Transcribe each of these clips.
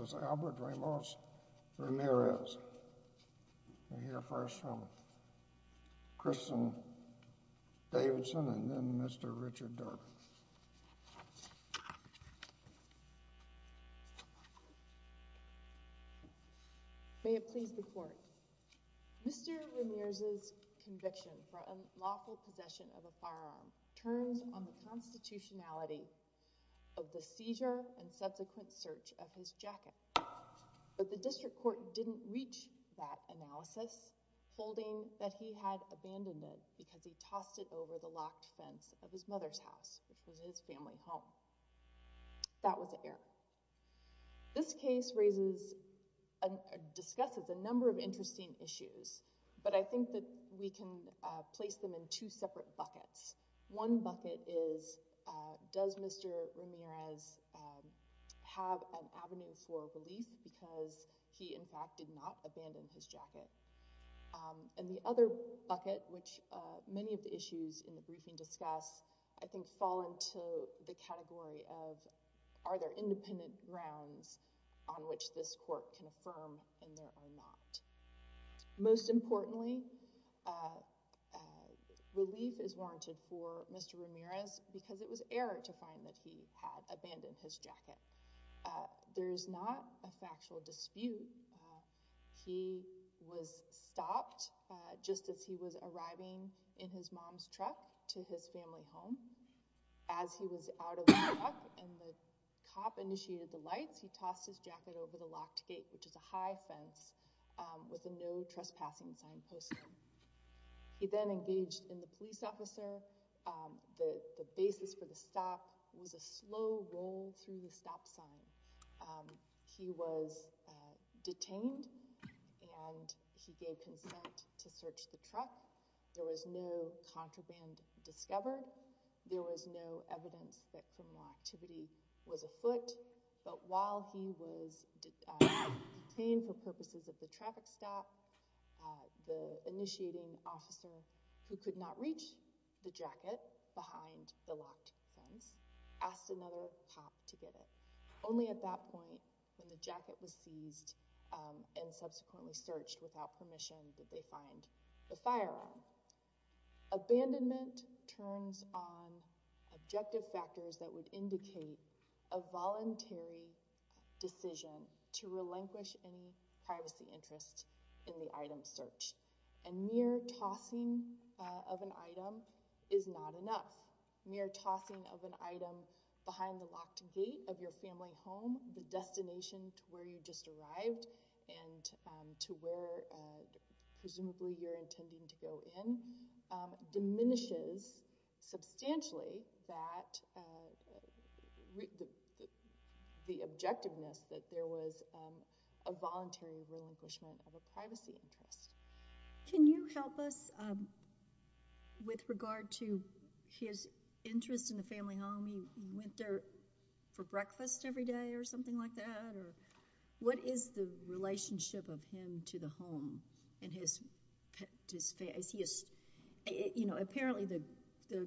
This is Albert Ramos Ramirez. We'll hear first from Kristen Davidson and then Mr. Richard Durk. May it please the court. Mr. Ramirez's conviction for unlawful possession of a firearm turns on the constitutionality of the seizure and subsequent search of his jacket. But the district court didn't reach that analysis, holding that he had abandoned it because he tossed it over the locked fence of his mother's house, which was his family home. That was the error. This case raises and discusses a number of interesting issues, but I think that we can place them in two separate buckets. One bucket is, does Mr. Ramirez have an avenue for relief because he in fact did not abandon his jacket? And the other bucket, which many of the issues in the briefing discuss, I think fall into the category of are there independent grounds on which this court can affirm and there are not. Most importantly, relief is warranted for Mr. Ramirez because it was error to find that he had abandoned his jacket. There's not a factual dispute. He was stopped just as he was arriving in his mom's truck to his family home. As he was out of the truck and the cop initiated the lights, he tossed his jacket over the locked gate, which is a high fence with a no trespassing sign posted. He then engaged in the police officer. The basis for the stop was a slow roll through the stop sign. He was detained and he gave consent to search the truck. There was no contraband discovered. There was no evidence that criminal activity was afoot. But while he was detained for purposes of the traffic stop, the initiating officer, who could not reach the jacket behind the locked fence, asked another cop to get it. Only at that point, when the jacket was seized and subsequently searched without permission, did they find the firearm. Abandonment turns on objective factors that would indicate a voluntary decision to relinquish any privacy interest in the item search. A mere tossing of an item is not enough. A mere tossing of an item behind the locked gate of your family home, the destination to where you just arrived and to where presumably you're intending to go in, diminishes substantially the objectiveness that there was a voluntary relinquishment of a privacy interest. Can you help us with regard to his interest in the family home? He went there for breakfast every day or something like that? What is the relationship of him to the home? Apparently the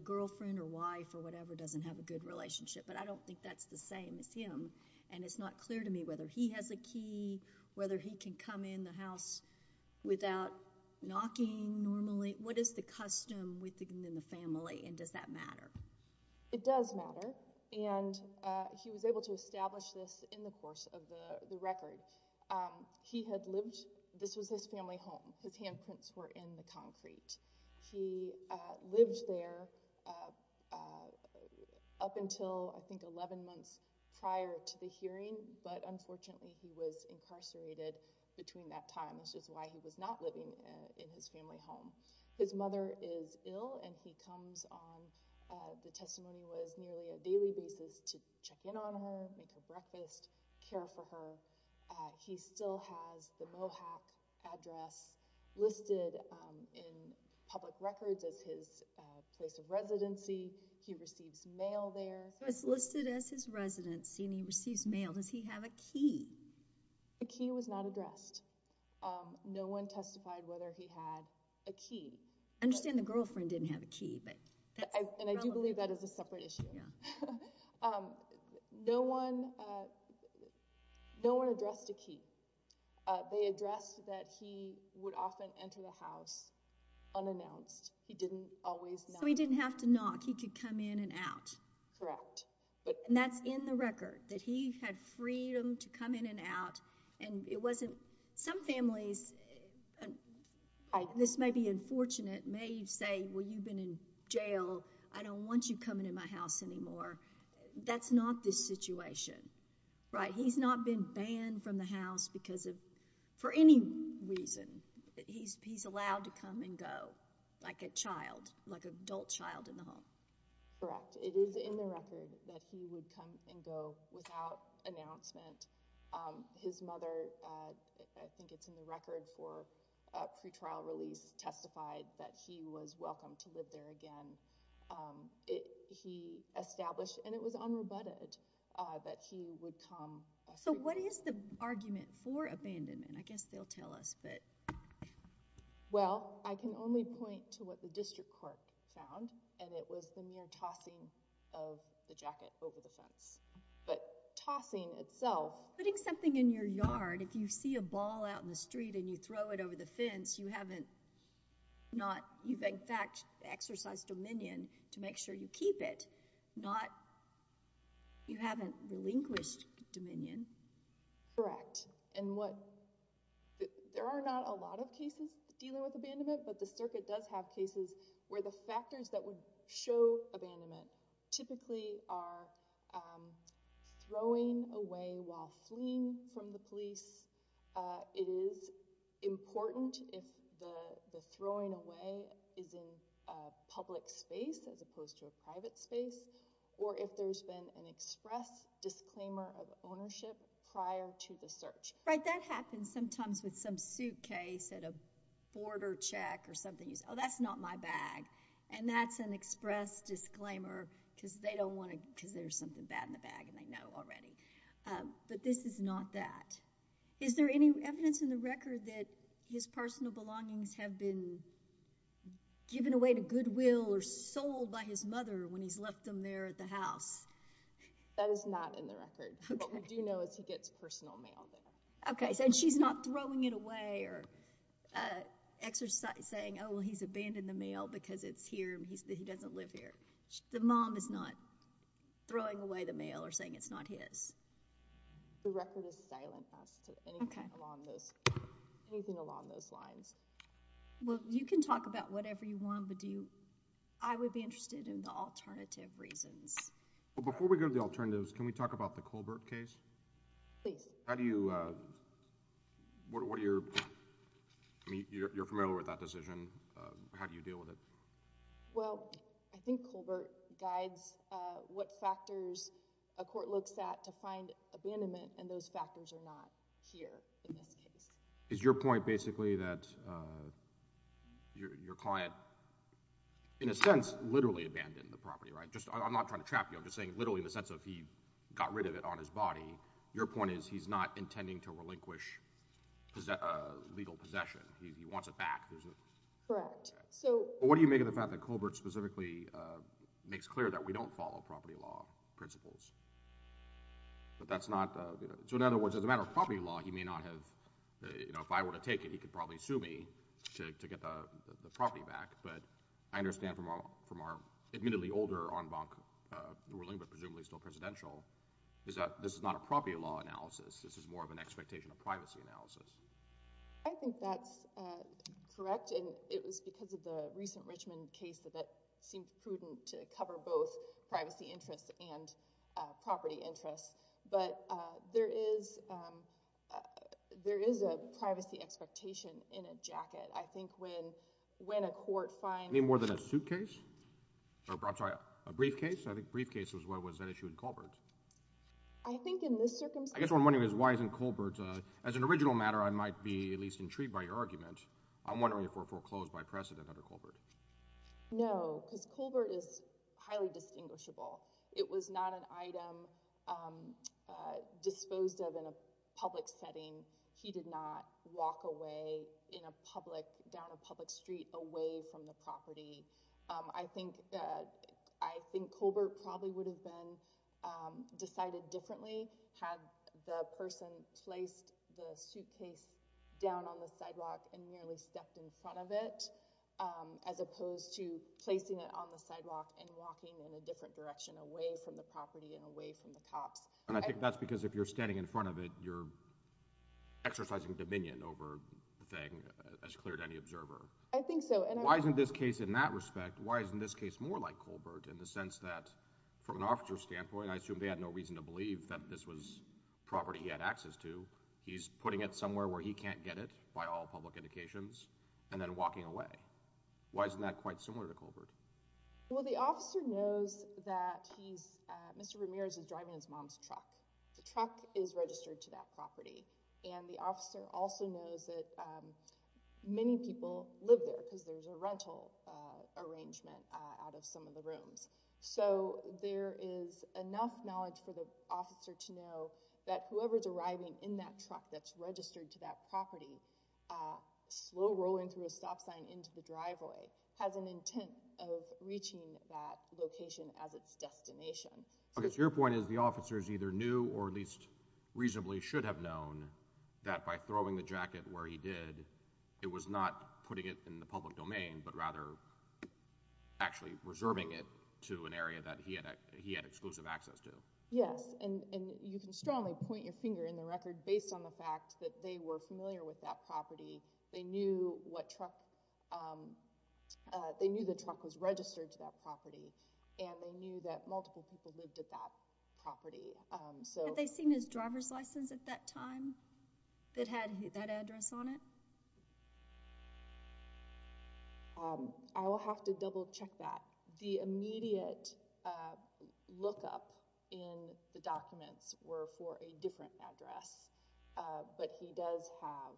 girlfriend or wife or whatever doesn't have a good relationship, but I don't think that's the same as him and it's not clear to me whether he has a key, whether he can come in the house without knocking normally. What is the custom within the family and does that matter? It does matter and he was able to establish this in the course of the record. This was his family home. His handprints were in the concrete. He lived there up until I think 11 months prior to the hearing, but unfortunately he was incarcerated between that time, which is why he was not living in his family home. His mother is ill and he comes on, the testimony was, nearly a daily basis to check in on her, make her breakfast, care for her. He still has the Mohack address listed in public records as his place of residency. He receives mail there. So it's listed as his residency and he receives mail. Does he have a key? A key was not addressed. No one testified whether he had a key. I understand the girlfriend didn't have a key. And I do believe that is a separate issue. No one addressed a key. They addressed that he would often enter the house unannounced. He didn't always knock. If he had to knock, he could come in and out. Correct. And that's in the record, that he had freedom to come in and out. Some families, this may be unfortunate, may say, well you've been in jail, I don't want you coming in my house anymore. That's not the situation. He's not been banned from the house for any reason. He's allowed to come and go like a child, like an adult child in the home. Correct. It is in the record that he would come and go without announcement. His mother, I think it's in the record for a pretrial release, testified that he was welcome to live there again. He established, and it was unrebutted, that he would come. So what is the argument for abandonment? I guess they'll tell us. Well, I can only point to what the district court found, and it was the mere tossing of the jacket over the fence. But tossing itself... Putting something in your yard, if you see a ball out in the street and you throw it over the fence, you haven't exercised dominion to make sure you keep it. You haven't relinquished dominion. Correct. There are not a lot of cases dealing with abandonment, but the circuit does have cases where the factors that would show abandonment typically are throwing away while fleeing from the police. It is important if the throwing away is in a public space as opposed to a private space, or if there's been an express disclaimer of ownership prior to the search. Right, that happens sometimes with some suitcase at a border check or something. Oh, that's not my bag, and that's an express disclaimer because there's something bad in the bag and they know already. But this is not that. Is there any evidence in the record that his personal belongings have been given away to goodwill or sold by his mother when he's left them there at the house? That is not in the record. What we do know is he gets personal mail there. Okay, so she's not throwing it away or saying, oh, well, he's abandoned the mail because he doesn't live here. The mom is not throwing away the mail or saying it's not his. The record is silent as to anything along those lines. Well, you can talk about whatever you want, but I would be interested in the alternative reasons. Before we go to the alternatives, can we talk about the Colbert case? Please. How do you—what are your—I mean, you're familiar with that decision. How do you deal with it? Well, I think Colbert guides what factors a court looks at to find abandonment, and those factors are not here in this case. Is your point basically that your client, in a sense, literally abandoned the property, right? I'm not trying to trap you. I'm just saying literally in the sense of he got rid of it on his body. Your point is he's not intending to relinquish legal possession. He wants it back. Correct. What do you make of the fact that Colbert specifically makes clear that we don't follow property law principles? But that's not—so in other words, as a matter of property law, he may not have— if I were to take it, he could probably sue me to get the property back. But I understand from our admittedly older en banc ruling, but presumably still presidential, is that this is not a property law analysis. This is more of an expectation of privacy analysis. I think that's correct, and it was because of the recent Richmond case that that seemed prudent to cover both privacy interests and property interests. But there is a privacy expectation in a jacket. I think when a court finds— Any more than a suitcase? I'm sorry, a briefcase? I think briefcase was what was at issue in Colbert. I think in this circumstance— I guess what I'm wondering is why isn't Colbert—as an original matter, I might be at least intrigued by your argument. I'm wondering if we're foreclosed by precedent under Colbert. No, because Colbert is highly distinguishable. It was not an item disposed of in a public setting. He did not walk away in a public—down a public street away from the property. I think Colbert probably would have been decided differently had the person placed the suitcase down on the sidewalk and merely stepped in front of it, as opposed to placing it on the sidewalk and walking in a different direction, away from the property and away from the cops. I think that's because if you're standing in front of it, you're exercising dominion over the thing as clear to any observer. I think so. Why isn't this case, in that respect, why isn't this case more like Colbert in the sense that from an officer's standpoint, I assume they had no reason to believe that this was property he had access to. He's putting it somewhere where he can't get it by all public indications and then walking away. Why isn't that quite similar to Colbert? Well, the officer knows that he's—Mr. Ramirez is driving his mom's truck. The truck is registered to that property. And the officer also knows that many people live there because there's a rental arrangement out of some of the rooms. So there is enough knowledge for the officer to know that whoever's arriving in that truck that's registered to that property, slow rolling through a stop sign into the driveway, has an intent of reaching that location as its destination. Okay, so your point is the officers either knew or at least reasonably should have known that by throwing the jacket where he did, it was not putting it in the public domain but rather actually reserving it to an area that he had exclusive access to. Yes, and you can strongly point your finger in the record based on the fact that they were familiar with that property. They knew the truck was registered to that property and they knew that multiple people lived at that property. Had they seen his driver's license at that time that had that address on it? I will have to double-check that. The immediate lookup in the documents were for a different address, but he does have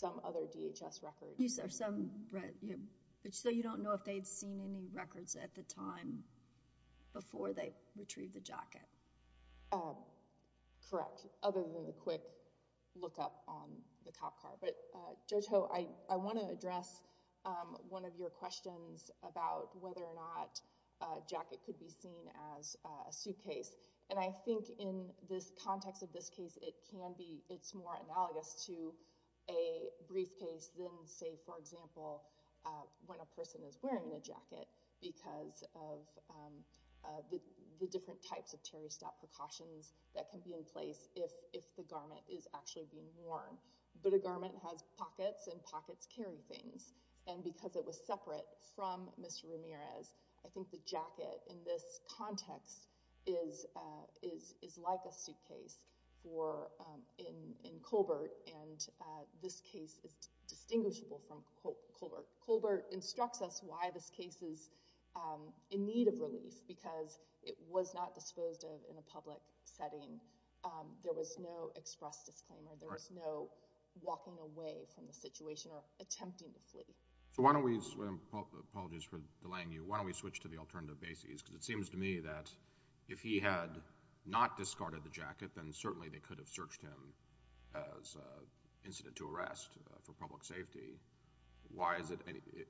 some other DHS records. So you don't know if they'd seen any records at the time before they retrieved the jacket? Correct, other than a quick lookup on the cop car. But Judge Ho, I want to address one of your questions about whether or not a jacket could be seen as a suitcase. And I think in this context of this case, it's more analogous to a briefcase than, say, for example, when a person is wearing a jacket because of the different types of terrorist precautions that can be in place if the garment is actually being worn. But a garment has pockets and pockets carry things. And because it was separate from Mr. Ramirez, I think the jacket in this context is like a suitcase in Colbert, and this case is distinguishable from Colbert. Colbert instructs us why this case is in need of relief because it was not disposed of in a public setting. There was no express disclaimer. There was no walking away from the situation or attempting to flee. So why don't we—apologies for delaying you— why don't we switch to the alternative basis? Because it seems to me that if he had not discarded the jacket, then certainly they could have searched him as incident to arrest for public safety. Why is it,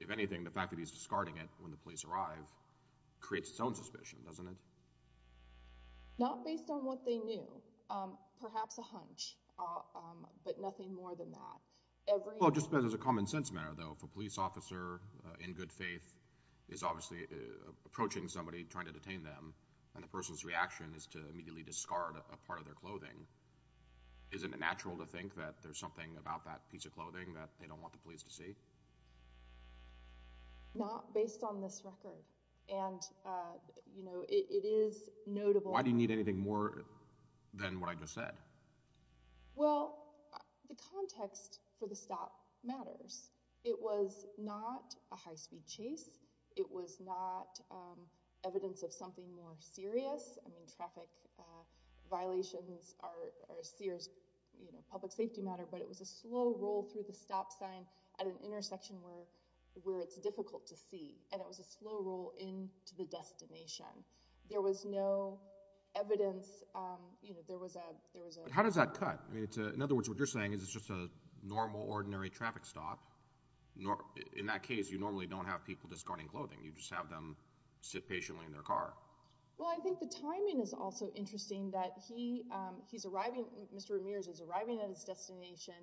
if anything, the fact that he's discarding it when the police arrive creates its own suspicion, doesn't it? Not based on what they knew. Perhaps a hunch, but nothing more than that. Well, just as a common-sense matter, though, if a police officer, in good faith, is obviously approaching somebody trying to detain them and the person's reaction is to immediately discard a part of their clothing, isn't it natural to think that there's something about that piece of clothing that they don't want the police to see? Not based on this record. And, you know, it is notable— Why do you need anything more than what I just said? Well, the context for the stop matters. It was not a high-speed chase. It was not evidence of something more serious. I mean, traffic violations are a public safety matter, but it was a slow roll through the stop sign at an intersection where it's difficult to see, and it was a slow roll into the destination. There was no evidence— How does that cut? In other words, what you're saying is it's just a normal, ordinary traffic stop. In that case, you normally don't have people discarding clothing. You just have them sit patiently in their car. Well, I think the timing is also interesting, that he's arriving— Mr. Ramirez is arriving at his destination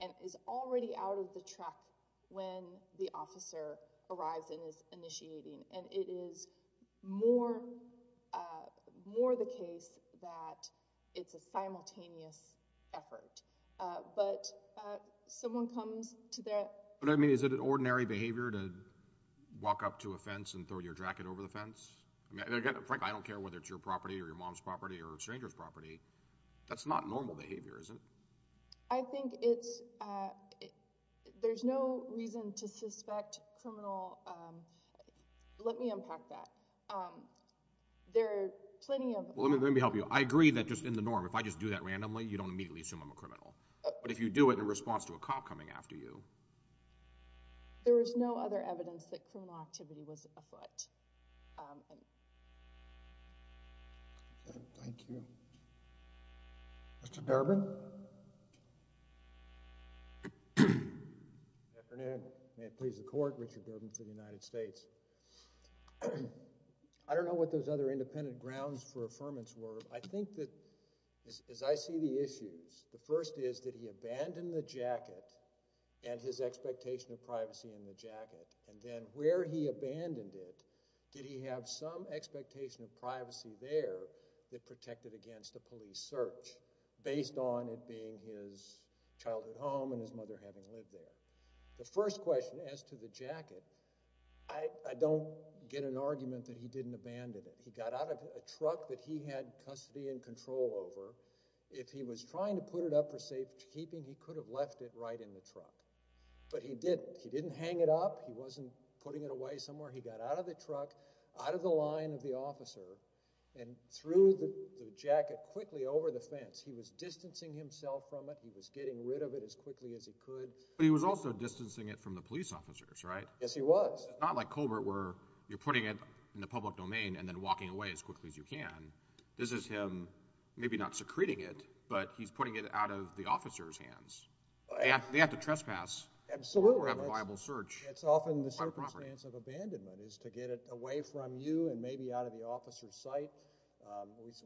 and is already out of the truck when the officer arrives and is initiating, and it is more the case that it's a simultaneous effort. But someone comes to their— But, I mean, is it ordinary behavior to walk up to a fence and throw your jacket over the fence? I mean, again, frankly, I don't care whether it's your property or your mom's property or a stranger's property. That's not normal behavior, is it? I think it's— There's no reason to suspect criminal— Let me unpack that. There are plenty of— Let me help you. I agree that just in the norm, if I just do that randomly, you don't immediately assume I'm a criminal. But if you do it in response to a cop coming after you— There was no other evidence that criminal activity was afoot. Thank you. Mr. Durbin? Good afternoon. May it please the Court, Richard Durbin for the United States. I don't know what those other independent grounds for affirmance were. I think that, as I see the issues, the first is, did he abandon the jacket and his expectation of privacy in the jacket? And then where he abandoned it, did he have some expectation of privacy there that protected against a police search based on it being his childhood home and his mother having lived there? The first question as to the jacket, I don't get an argument that he didn't abandon it. He got out of a truck that he had custody and control over. If he was trying to put it up for safekeeping, he could have left it right in the truck. But he didn't. He didn't hang it up. He wasn't putting it away somewhere. He got out of the truck, out of the line of the officer, and threw the jacket quickly over the fence. He was distancing himself from it. He was getting rid of it as quickly as he could. But he was also distancing it from the police officers, right? Yes, he was. It's not like Colbert where you're putting it in the public domain and then walking away as quickly as you can. This is him maybe not secreting it, but he's putting it out of the officer's hands. They have to trespass or have a viable search. It's often the circumstance of abandonment, is to get it away from you and maybe out of the officer's sight.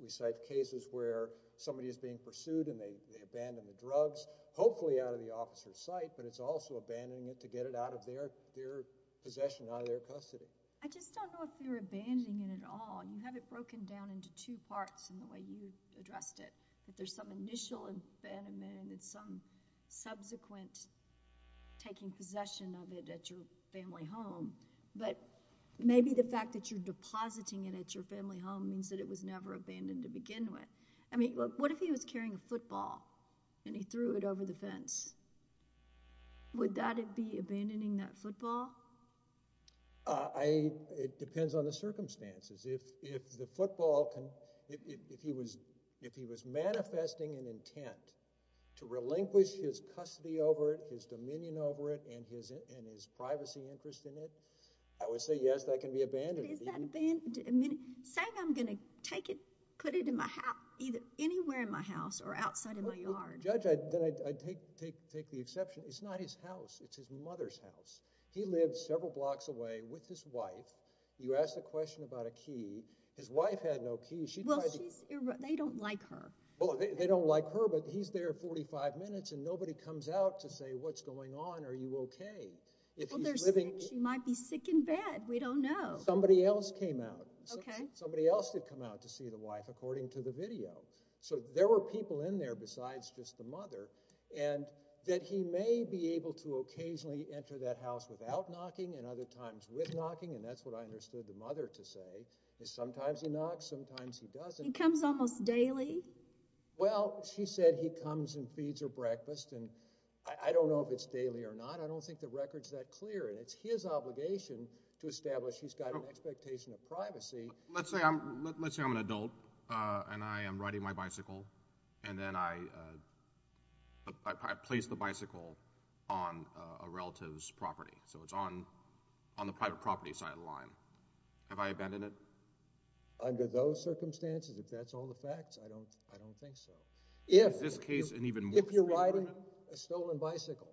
We cite cases where somebody is being pursued and they abandon the drugs, hopefully out of the officer's sight, but it's also abandoning it to get it out of their possession, out of their custody. I just don't know if you're abandoning it at all. You have it broken down into two parts in the way you addressed it, that there's some initial abandonment and then some subsequent taking possession of it at your family home. But maybe the fact that you're depositing it at your family home means that it was never abandoned to begin with. I mean, what if he was carrying a football and he threw it over the fence? Would that be abandoning that football? It depends on the circumstances. If he was manifesting an intent to relinquish his custody over it, his dominion over it, and his privacy interest in it, I would say yes, that can be abandoned. But is that abandonment? Saying I'm going to take it, put it in my house, either anywhere in my house or outside of my yard. Judge, I take the exception. It's not his house. It's his mother's house. He lived several blocks away with his wife. You asked a question about a key. His wife had no key. Well, they don't like her. Well, they don't like her, but he's there 45 minutes and nobody comes out to say what's going on, are you okay? She might be sick in bed. We don't know. Somebody else came out. Okay. Somebody else had come out to see the wife according to the video. So there were people in there besides just the mother and that he may be able to occasionally enter that house without knocking and other times with knocking, and that's what I understood the mother to say, is sometimes he knocks, sometimes he doesn't. He comes almost daily? Well, she said he comes and feeds her breakfast, and I don't know if it's daily or not. I don't think the record's that clear, and it's his obligation to establish he's got an expectation of privacy. Let's say I'm an adult and I am riding my bicycle, and then I place the bicycle on a relative's property. So it's on the private property side of the line. Have I abandoned it? Under those circumstances, if that's all the facts, I don't think so. Is this case an even more clear argument? If you're riding a stolen bicycle.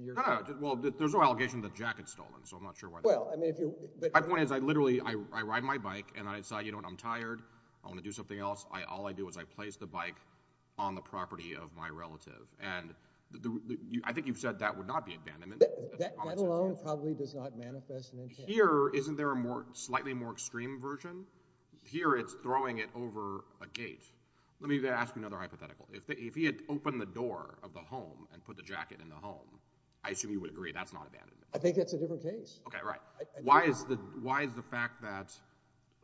No, no. Well, there's no allegation that Jack had stolen, so I'm not sure why that's true. My point is I literally ride my bike and I decide I'm tired, I want to do something else. All I do is I place the bike on the property of my relative, and I think you've said that would not be abandonment. That alone probably does not manifest an intent. Here, isn't there a slightly more extreme version? Here it's throwing it over a gate. Let me ask you another hypothetical. If he had opened the door of the home and put the jacket in the home, I assume you would agree that's not abandonment. I think that's a different case. Okay, right. Why is the fact that,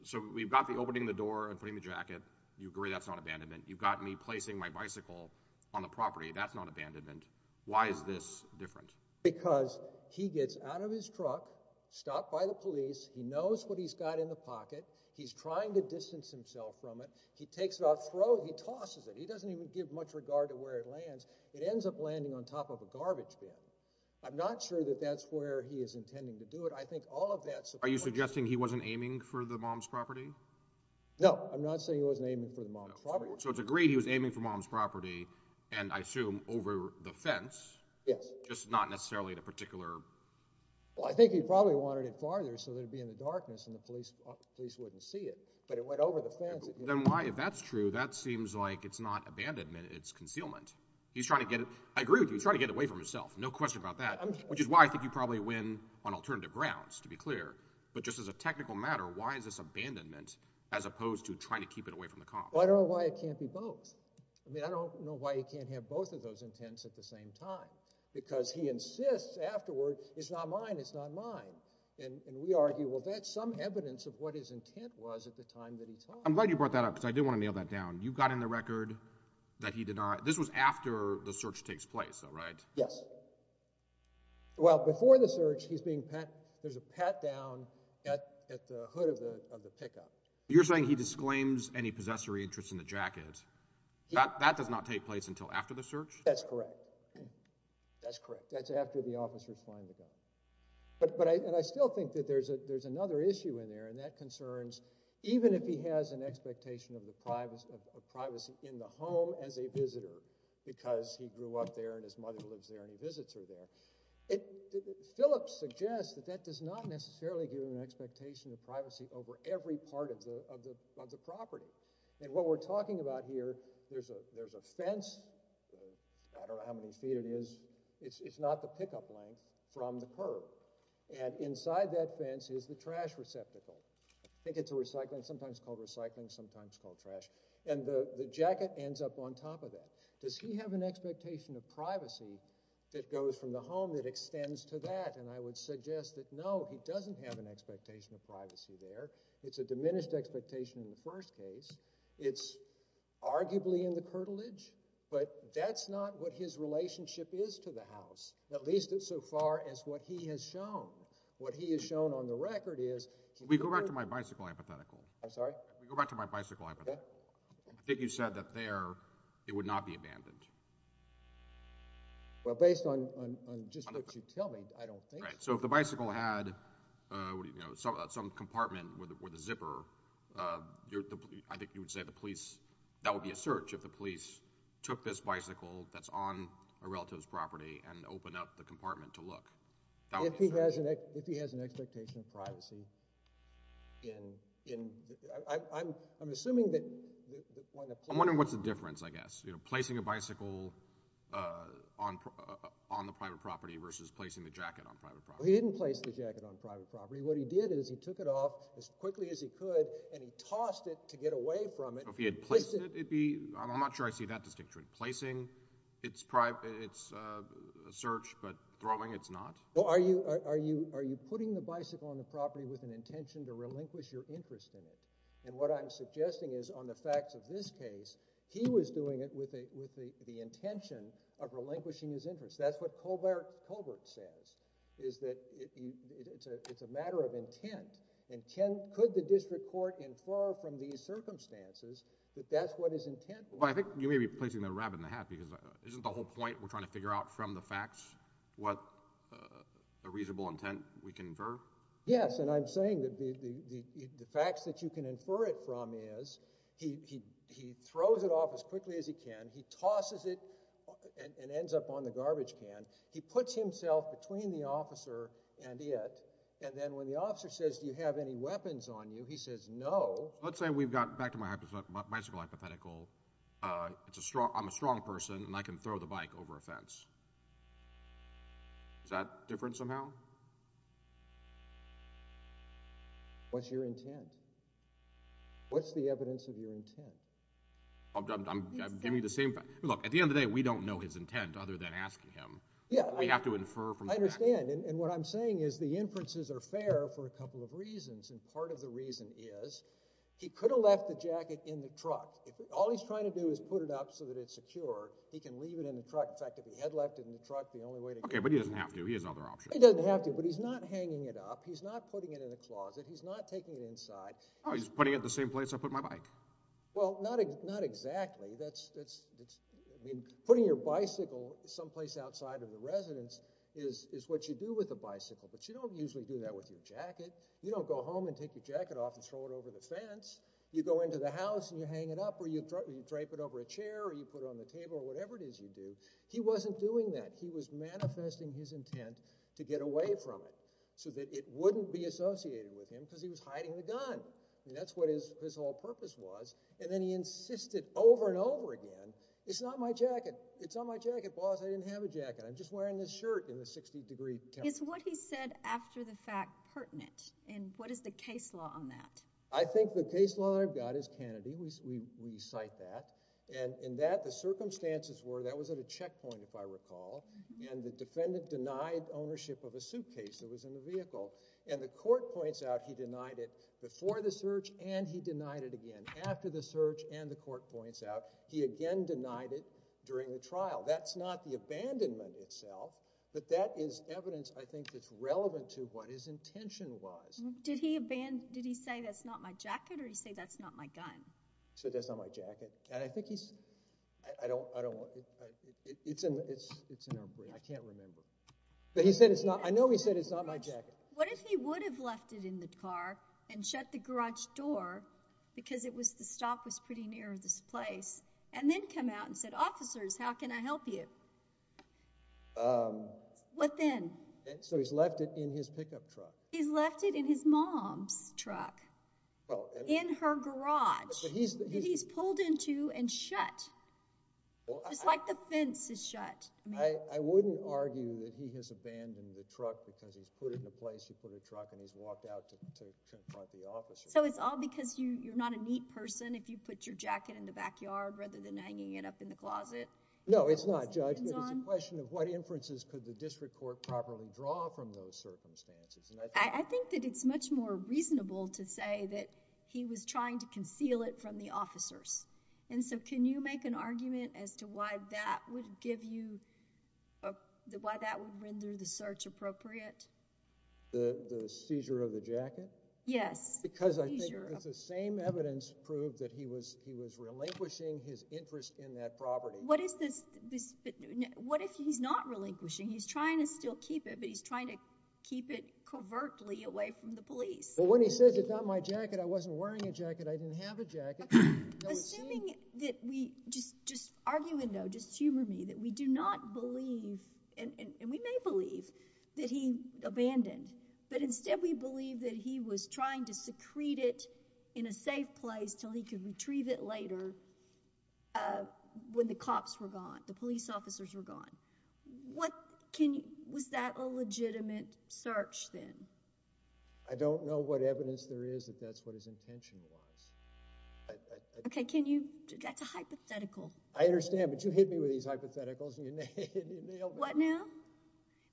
so we've got the opening the door and putting the jacket. You agree that's not abandonment. You've got me placing my bicycle on the property. That's not abandonment. Why is this different? Because he gets out of his truck, stopped by the police. He knows what he's got in the pocket. He's trying to distance himself from it. He takes it off, throws it. He tosses it. He doesn't even give much regard to where it lands. It ends up landing on top of a garbage bin. I'm not sure that that's where he is intending to do it. I think all of that supports. Are you suggesting he wasn't aiming for the mom's property? No, I'm not saying he wasn't aiming for the mom's property. So it's agreed he was aiming for mom's property and, I assume, over the fence. Yes. Just not necessarily the particular. Well, I think he probably wanted it farther so that it would be in the darkness and the police wouldn't see it. But it went over the fence. Then why, if that's true, that seems like it's not abandonment. It's concealment. He's trying to get it. I agree with you. He's trying to get it away from himself. No question about that, which is why I think you probably win on alternative grounds, to be clear. But just as a technical matter, why is this abandonment as opposed to trying to keep it away from the cops? Well, I don't know why it can't be both. I mean, I don't know why he can't have both of those intents at the same time because he insists afterward, it's not mine, it's not mine. And we argue, well, that's some evidence of what his intent was at the time that he told us. I'm glad you brought that up because I did want to nail that down. You got in the record that he did not. This was after the search takes place, though, right? Yes. Well, before the search, he's being pat—there's a pat down at the hood of the pickup. You're saying he disclaims any possessory interest in the jacket. That does not take place until after the search? That's correct. That's correct. That's after the officers find the gun. But I still think that there's another issue in there, and that concerns even if he has an expectation of privacy in the home as a visitor because he grew up there and his mother lives there and he visits her there, Phillips suggests that that does not necessarily give him an expectation of privacy over every part of the property. And what we're talking about here, there's a fence. I don't know how many feet it is. It's not the pickup length from the curb. And inside that fence is the trash receptacle. I think it's a recycling—sometimes called recycling, sometimes called trash. And the jacket ends up on top of that. Does he have an expectation of privacy that goes from the home that extends to that? And I would suggest that no, he doesn't have an expectation of privacy there. It's a diminished expectation in the first case. It's arguably in the curtilage, but that's not what his relationship is to the house, at least so far as what he has shown. What he has shown on the record is— Can we go back to my bicycle hypothetical? I'm sorry? Can we go back to my bicycle hypothetical? Okay. I think you said that there it would not be abandoned. Well, based on just what you tell me, I don't think so. Right. So if the bicycle had some compartment with a zipper, I think you would say the police— that would be a search if the police took this bicycle that's on a relative's property and opened up the compartment to look. That would be a search. If he has an expectation of privacy in—I'm assuming that— I'm wondering what's the difference, I guess. Placing a bicycle on the private property versus placing the jacket on private property. He didn't place the jacket on private property. What he did is he took it off as quickly as he could, and he tossed it to get away from it. If he had placed it, it would be—I'm not sure I see that distinction. Placing, it's a search, but throwing, it's not? Are you putting the bicycle on the property with an intention to relinquish your interest in it? And what I'm suggesting is on the facts of this case, he was doing it with the intention of relinquishing his interest. That's what Colbert says, is that it's a matter of intent. Could the district court infer from these circumstances that that's what his intent was? Well, I think you may be placing the rabbit in the hat because isn't the whole point we're trying to figure out from the facts what a reasonable intent we can infer? Yes, and I'm saying that the facts that you can infer it from is he throws it off as quickly as he can. He tosses it and ends up on the garbage can. He puts himself between the officer and it, and then when the officer says do you have any weapons on you, he says no. Let's say we've got, back to my bicycle hypothetical, I'm a strong person and I can throw the bike over a fence. Is that different somehow? What's your intent? What's the evidence of your intent? I'm giving you the same thing. Look, at the end of the day, we don't know his intent other than asking him. We have to infer from the facts. I understand, and what I'm saying is the inferences are fair for a couple of reasons, and part of the reason is he could have left the jacket in the truck. All he's trying to do is put it up so that it's secure. He can leave it in the truck. In fact, if he had left it in the truck, the only way to get it back. Okay, but he doesn't have to. He has other options. He doesn't have to, but he's not hanging it up. He's not putting it in a closet. He's not taking it inside. Oh, he's putting it in the same place I put my bike. Well, not exactly. Putting your bicycle someplace outside of the residence is what you do with a bicycle, but you don't usually do that with your jacket. You don't go home and take your jacket off and throw it over the fence. You go into the house, and you hang it up, or you drape it over a chair, or you put it on the table, or whatever it is you do. He wasn't doing that. He was manifesting his intent to get away from it so that it wouldn't be associated with him because he was hiding the gun, and that's what his whole purpose was, and then he insisted over and over again, It's not my jacket. It's not my jacket, boss. I didn't have a jacket. I'm just wearing this shirt in the 60-degree temperature. Is what he said after the fact pertinent, and what is the case law on that? I think the case law I've got is Kennedy. We cite that, and in that, the circumstances were that was at a checkpoint, if I recall, and the defendant denied ownership of a suitcase that was in the vehicle, and the court points out he denied it before the search, and he denied it again after the search, and the court points out he again denied it during the trial. That's not the abandonment itself, but that is evidence, I think, that's relevant to what his intention was. Did he say, That's not my jacket, or did he say, That's not my gun? He said, That's not my jacket, and I think he's – I don't – it's in our brief. I can't remember, but he said it's not – I know he said it's not my jacket. What if he would have left it in the car and shut the garage door because the stop was pretty near this place and then come out and said, Officers, how can I help you? What then? So he's left it in his pickup truck. He's left it in his mom's truck in her garage that he's pulled into and shut, just like the fence is shut. I wouldn't argue that he has abandoned the truck because he's put it in a place to put a truck, and he's walked out to confront the officers. So it's all because you're not a neat person if you put your jacket in the backyard rather than hanging it up in the closet? No, it's not, Judge, but it's a question of what inferences could the district court properly draw from those circumstances. I think that it's much more reasonable to say that he was trying to conceal it from the officers, and so can you make an argument as to why that would give you – why that would render the search appropriate? The seizure of the jacket? Yes. Because I think it's the same evidence proved that he was relinquishing his interest in that property. What if he's not relinquishing? He's trying to still keep it, but he's trying to keep it covertly away from the police. Well, when he says it's not my jacket, I wasn't wearing a jacket. I didn't have a jacket. Assuming that we – just argument, though, just humor me – that we do not believe, and we may believe, that he abandoned, but instead we believe that he was trying to secrete it in a safe place until he could retrieve it later when the cops were gone, the police officers were gone. Was that a legitimate search then? I don't know what evidence there is that that's what his intention was. Okay, can you – that's a hypothetical. I understand, but you hit me with these hypotheticals and you nailed it. What now?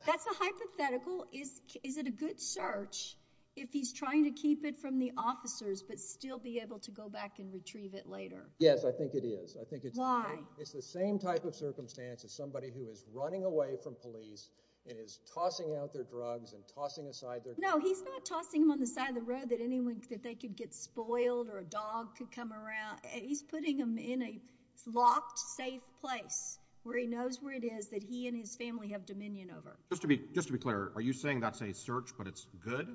That's a hypothetical. Is it a good search if he's trying to keep it from the officers but still be able to go back and retrieve it later? Yes, I think it is. Why? It's the same type of circumstance as somebody who is running away from police and is tossing out their drugs and tossing aside their – No, he's not tossing them on the side of the road that anyone – that they could get spoiled or a dog could come around. He's putting them in a locked, safe place where he knows where it is that he and his family have dominion over. Just to be – just to be clear, are you saying that's a search but it's good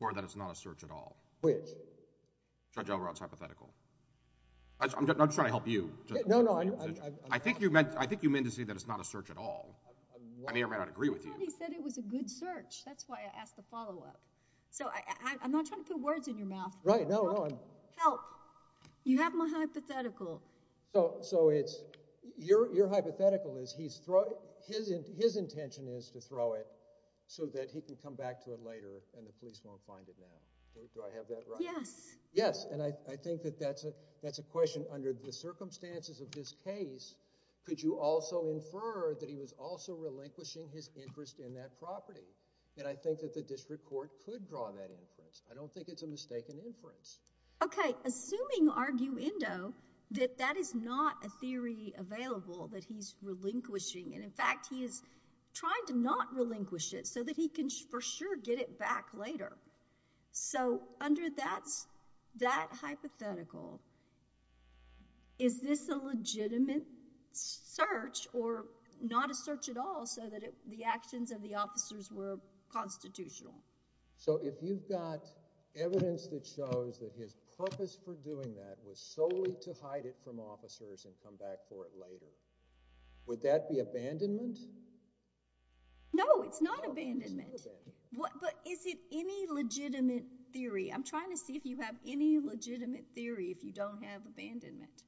or that it's not a search at all? Which? Judge Elrod's hypothetical. I'm just trying to help you. No, no. I think you meant to say that it's not a search at all. I may or may not agree with you. He said it was a good search. That's why I asked the follow-up. So I'm not trying to put words in your mouth. Right. Help. You have my hypothetical. So it's – your hypothetical is he's – his intention is to throw it so that he can come back to it later and the police won't find it now. Do I have that right? Yes. Yes, and I think that that's a question under the circumstances of this case. Could you also infer that he was also relinquishing his interest in that property? And I think that the district court could draw that inference. I don't think it's a mistaken inference. Okay. Assuming, arguendo, that that is not a theory available that he's relinquishing. And, in fact, he is trying to not relinquish it so that he can for sure get it back later. So under that hypothetical, is this a legitimate search or not a search at all so that the actions of the officers were constitutional? So if you've got evidence that shows that his purpose for doing that was solely to hide it from officers and come back for it later, would that be abandonment? No, it's not abandonment. But is it any legitimate theory? I'm trying to see if you have any legitimate theory if you don't have abandonment.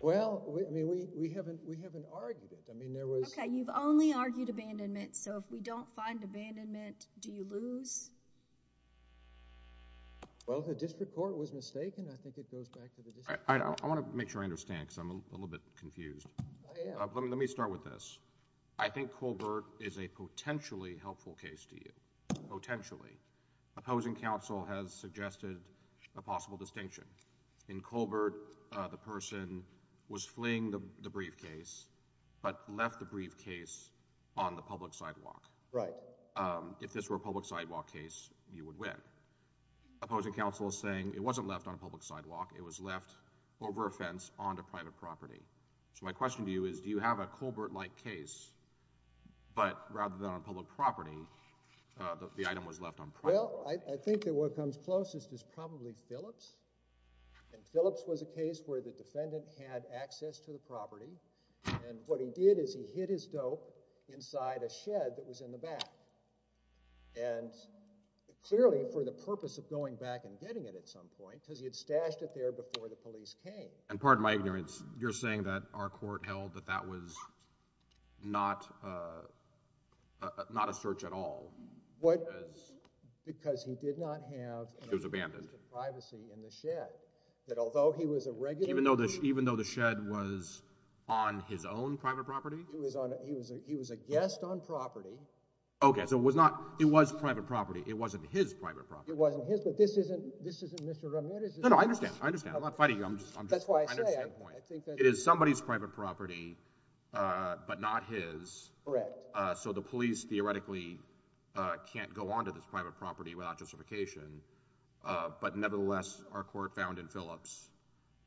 Well, I mean, we haven't argued it. I mean, there was... Okay. You've only argued abandonment. So if we don't find abandonment, do you lose? Well, the district court was mistaken. I think it goes back to the district... I want to make sure I understand because I'm a little bit confused. Let me start with this. I think Colbert is a potentially helpful case to you, potentially. Opposing counsel has suggested a possible distinction. In Colbert, the person was fleeing the briefcase but left the briefcase on the public sidewalk. Right. If this were a public sidewalk case, you would win. Opposing counsel is saying it wasn't left on a public sidewalk. It was left over a fence onto private property. So my question to you is do you have a Colbert-like case but rather than on public property, the item was left on private property? Well, I think that what comes closest is probably Phillips. And Phillips was a case where the defendant had access to the property. And what he did is he hid his dope inside a shed that was in the back. And clearly for the purpose of going back and getting it at some point because he had stashed it there before the police came. And pardon my ignorance, you're saying that our court held that that was not a search at all? Because he did not have the privacy in the shed. That although he was a regular— Even though the shed was on his own private property? He was a guest on property. Okay, so it was not—it was private property. It wasn't his private property. It wasn't his, but this isn't Mr. Ramirez's— No, no, I understand. I understand. I'm not fighting you. That's why I say I think that— It is somebody's private property but not his. Correct. So the police theoretically can't go onto this private property without justification. But nevertheless, our court found in Phillips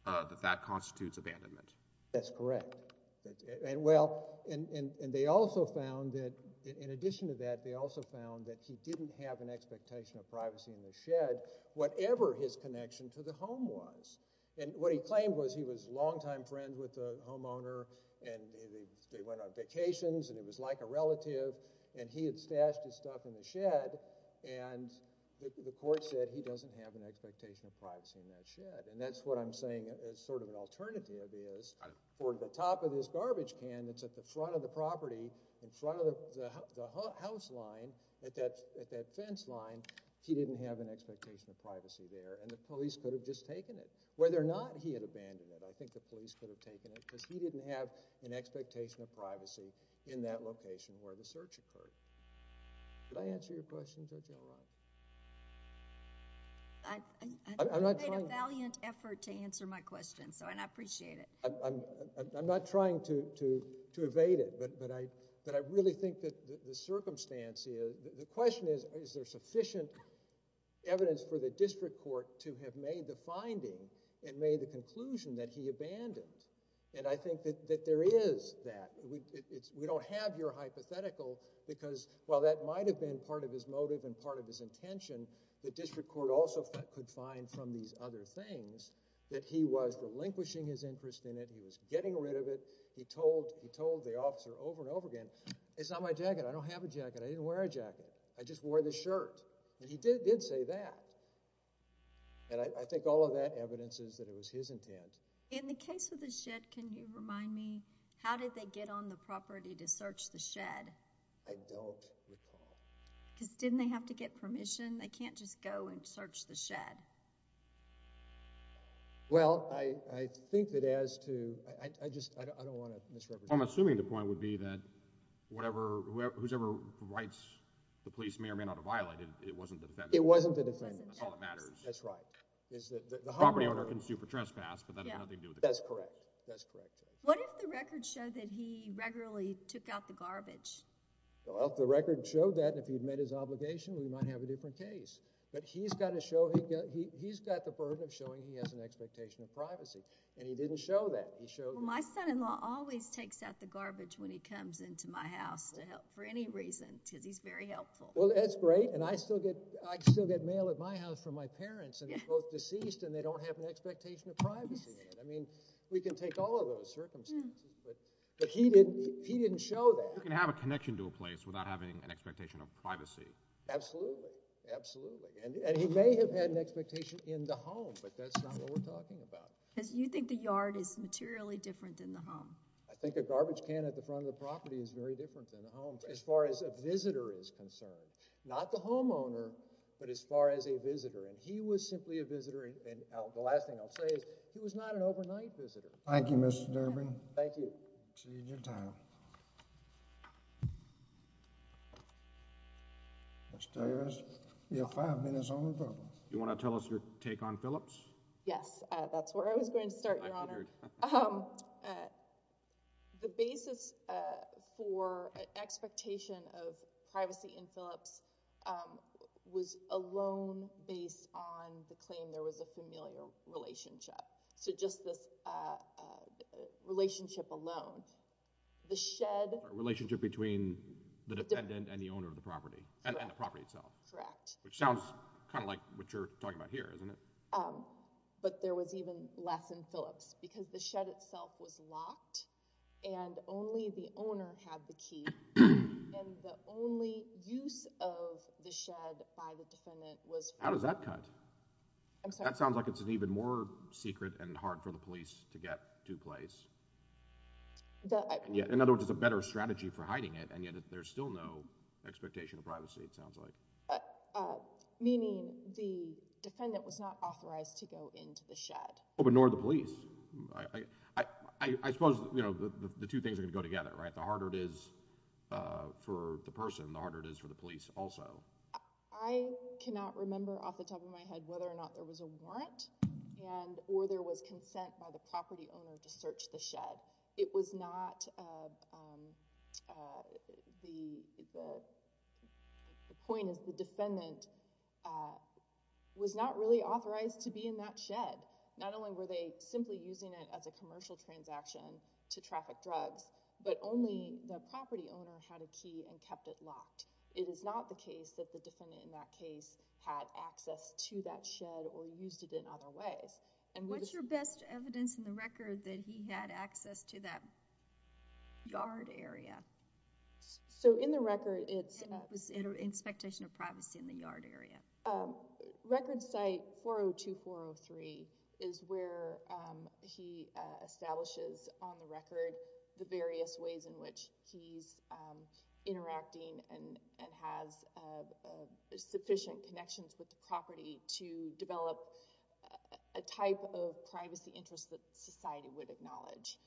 that that constitutes abandonment. That's correct. Well, and they also found that—in addition to that, they also found that he didn't have an expectation of privacy in the shed, whatever his connection to the home was. And what he claimed was he was a longtime friend with the homeowner, and they went on vacations, and it was like a relative, and he had stashed his stuff in the shed. And the court said he doesn't have an expectation of privacy in that shed. And that's what I'm saying as sort of an alternative is for the top of this garbage can that's at the front of the property, in front of the house line, at that fence line, he didn't have an expectation of privacy there. And the police could have just taken it. Whether or not he had abandoned it, I think the police could have taken it because he didn't have an expectation of privacy in that location where the search occurred. Did I answer your question, Judge Elrod? I made a valiant effort to answer my question, and I appreciate it. I'm not trying to evade it, but I really think that the circumstance—the question is, is there sufficient evidence for the district court to have made the finding and made the conclusion that he abandoned? And I think that there is that. We don't have your hypothetical because while that might have been part of his motive and part of his intention, the district court also could find from these other things that he was relinquishing his interest in it. He was getting rid of it. He told the officer over and over again, it's not my jacket. I don't have a jacket. I didn't wear a jacket. I just wore this shirt. And he did say that. And I think all of that evidence is that it was his intent. In the case of the shed, can you remind me, how did they get on the property to search the shed? I don't recall. Because didn't they have to get permission? They can't just go and search the shed. Well, I think that as to—I just—I don't want to misrepresent— I'm assuming the point would be that whatever—whosever rights the police may or may not have violated, it wasn't the defendant. It wasn't the defendant. That's all that matters. That's right. The property owner can sue for trespass, but that has nothing to do with the court. That's correct. That's correct. What if the records show that he regularly took out the garbage? Well, if the records show that and if he'd made his obligation, we might have a different case. But he's got to show—he's got the burden of showing he has an expectation of privacy. And he didn't show that. He showed— Well, my son-in-law always takes out the garbage when he comes into my house for any reason because he's very helpful. Well, that's great. And I still get—I still get mail at my house from my parents, and they're both deceased, and they don't have an expectation of privacy. I mean, we can take all of those circumstances, but he didn't—he didn't show that. You can have a connection to a place without having an expectation of privacy. Absolutely. Absolutely. And he may have had an expectation in the home, but that's not what we're talking about. Because you think the yard is materially different than the home. I think a garbage can at the front of the property is very different than a home as far as a visitor is concerned. Not the homeowner, but as far as a visitor. And he was simply a visitor. And the last thing I'll say is he was not an overnight visitor. Thank you, Mr. Durbin. Thank you. Exceeding your time. You have five minutes. You want to tell us your take on Phillips? Yes. That's where I was going to start, Your Honor. The basis for expectation of privacy in Phillips was alone based on the claim there was a familial relationship. So just this relationship alone. The shed— Relationship between the defendant and the owner of the property. And the property itself. Correct. Which sounds kind of like what you're talking about here, isn't it? But there was even less in Phillips. Because the shed itself was locked, and only the owner had the key. And the only use of the shed by the defendant was— How does that cut? I'm sorry? That sounds like it's an even more secret and hard for the police to get to place. In other words, it's a better strategy for hiding it, and yet there's still no expectation of privacy, it sounds like. Meaning the defendant was not authorized to go into the shed. But nor the police. I suppose the two things are going to go together, right? The harder it is for the person, the harder it is for the police also. I cannot remember off the top of my head whether or not there was a warrant, or there was consent by the property owner to search the shed. It was not—the point is the defendant was not really authorized to be in that shed. Not only were they simply using it as a commercial transaction to traffic drugs, but only the property owner had a key and kept it locked. It is not the case that the defendant in that case had access to that shed or used it in other ways. What's your best evidence in the record that he had access to that yard area? In the record, it's— It was an expectation of privacy in the yard area. Record site 402-403 is where he establishes on the record the various ways in which he's interacting and has sufficient connections with the property to develop a type of privacy interest that society would acknowledge.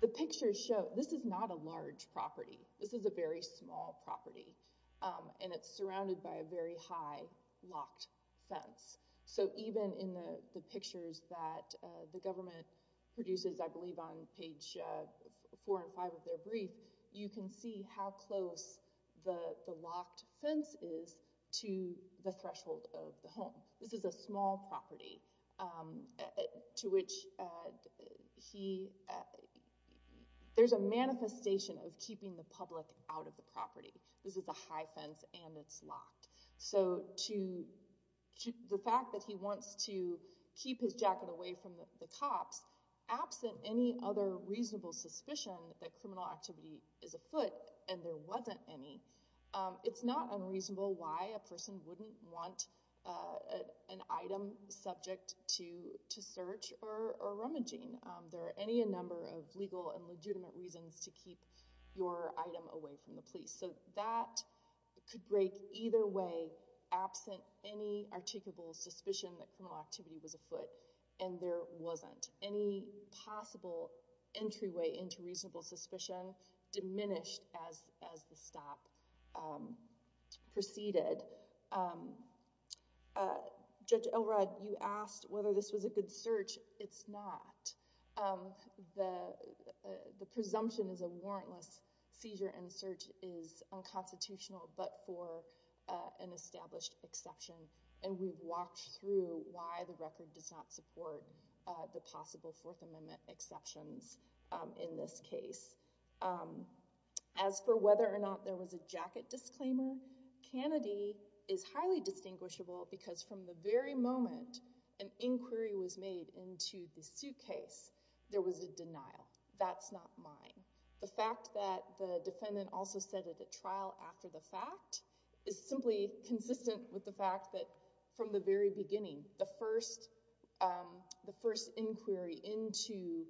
The pictures show—this is not a large property. This is a very small property, and it's surrounded by a very high locked fence. Even in the pictures that the government produces, I believe, on page 4 and 5 of their brief, you can see how close the locked fence is to the threshold of the home. This is a small property to which he— There's a manifestation of keeping the public out of the property. This is a high fence, and it's locked. The fact that he wants to keep his jacket away from the cops, absent any other reasonable suspicion that criminal activity is afoot, and there wasn't any, it's not unreasonable why a person wouldn't want an item subject to search or rummaging. There are any number of legal and legitimate reasons to keep your item away from the police. So that could break either way, absent any articulable suspicion that criminal activity was afoot, and there wasn't. Any possible entryway into reasonable suspicion diminished as the stop proceeded. Judge Elrod, you asked whether this was a good search. It's not. The presumption is a warrantless seizure and search is unconstitutional but for an established exception, and we've walked through why the record does not support the possible Fourth Amendment exceptions in this case. As for whether or not there was a jacket disclaimer, Kennedy is highly distinguishable because from the very moment an inquiry was made into the suitcase, there was a denial. That's not mine. The fact that the defendant also said at the trial after the fact is simply consistent with the fact that from the very beginning, the first inquiry into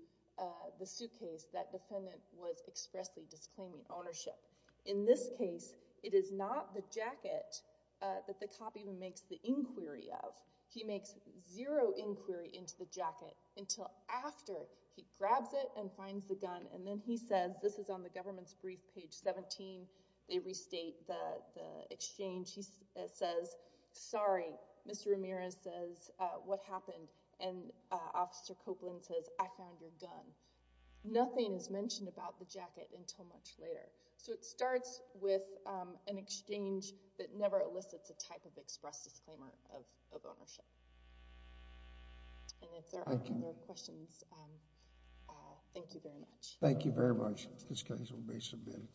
the suitcase, that defendant was expressly disclaiming ownership. In this case, it is not the jacket that the cop even makes the inquiry of. He makes zero inquiry into the jacket until after he grabs it and finds the gun. And then he says, this is on the government's brief, page 17, they restate the exchange. He says, sorry, Mr. Ramirez says, what happened? And Officer Copeland says, I found your gun. Nothing is mentioned about the jacket until much later. So it starts with an exchange that never elicits a type of express disclaimer of ownership. And if there are no more questions, thank you very much. Thank you very much. This case will be submitted.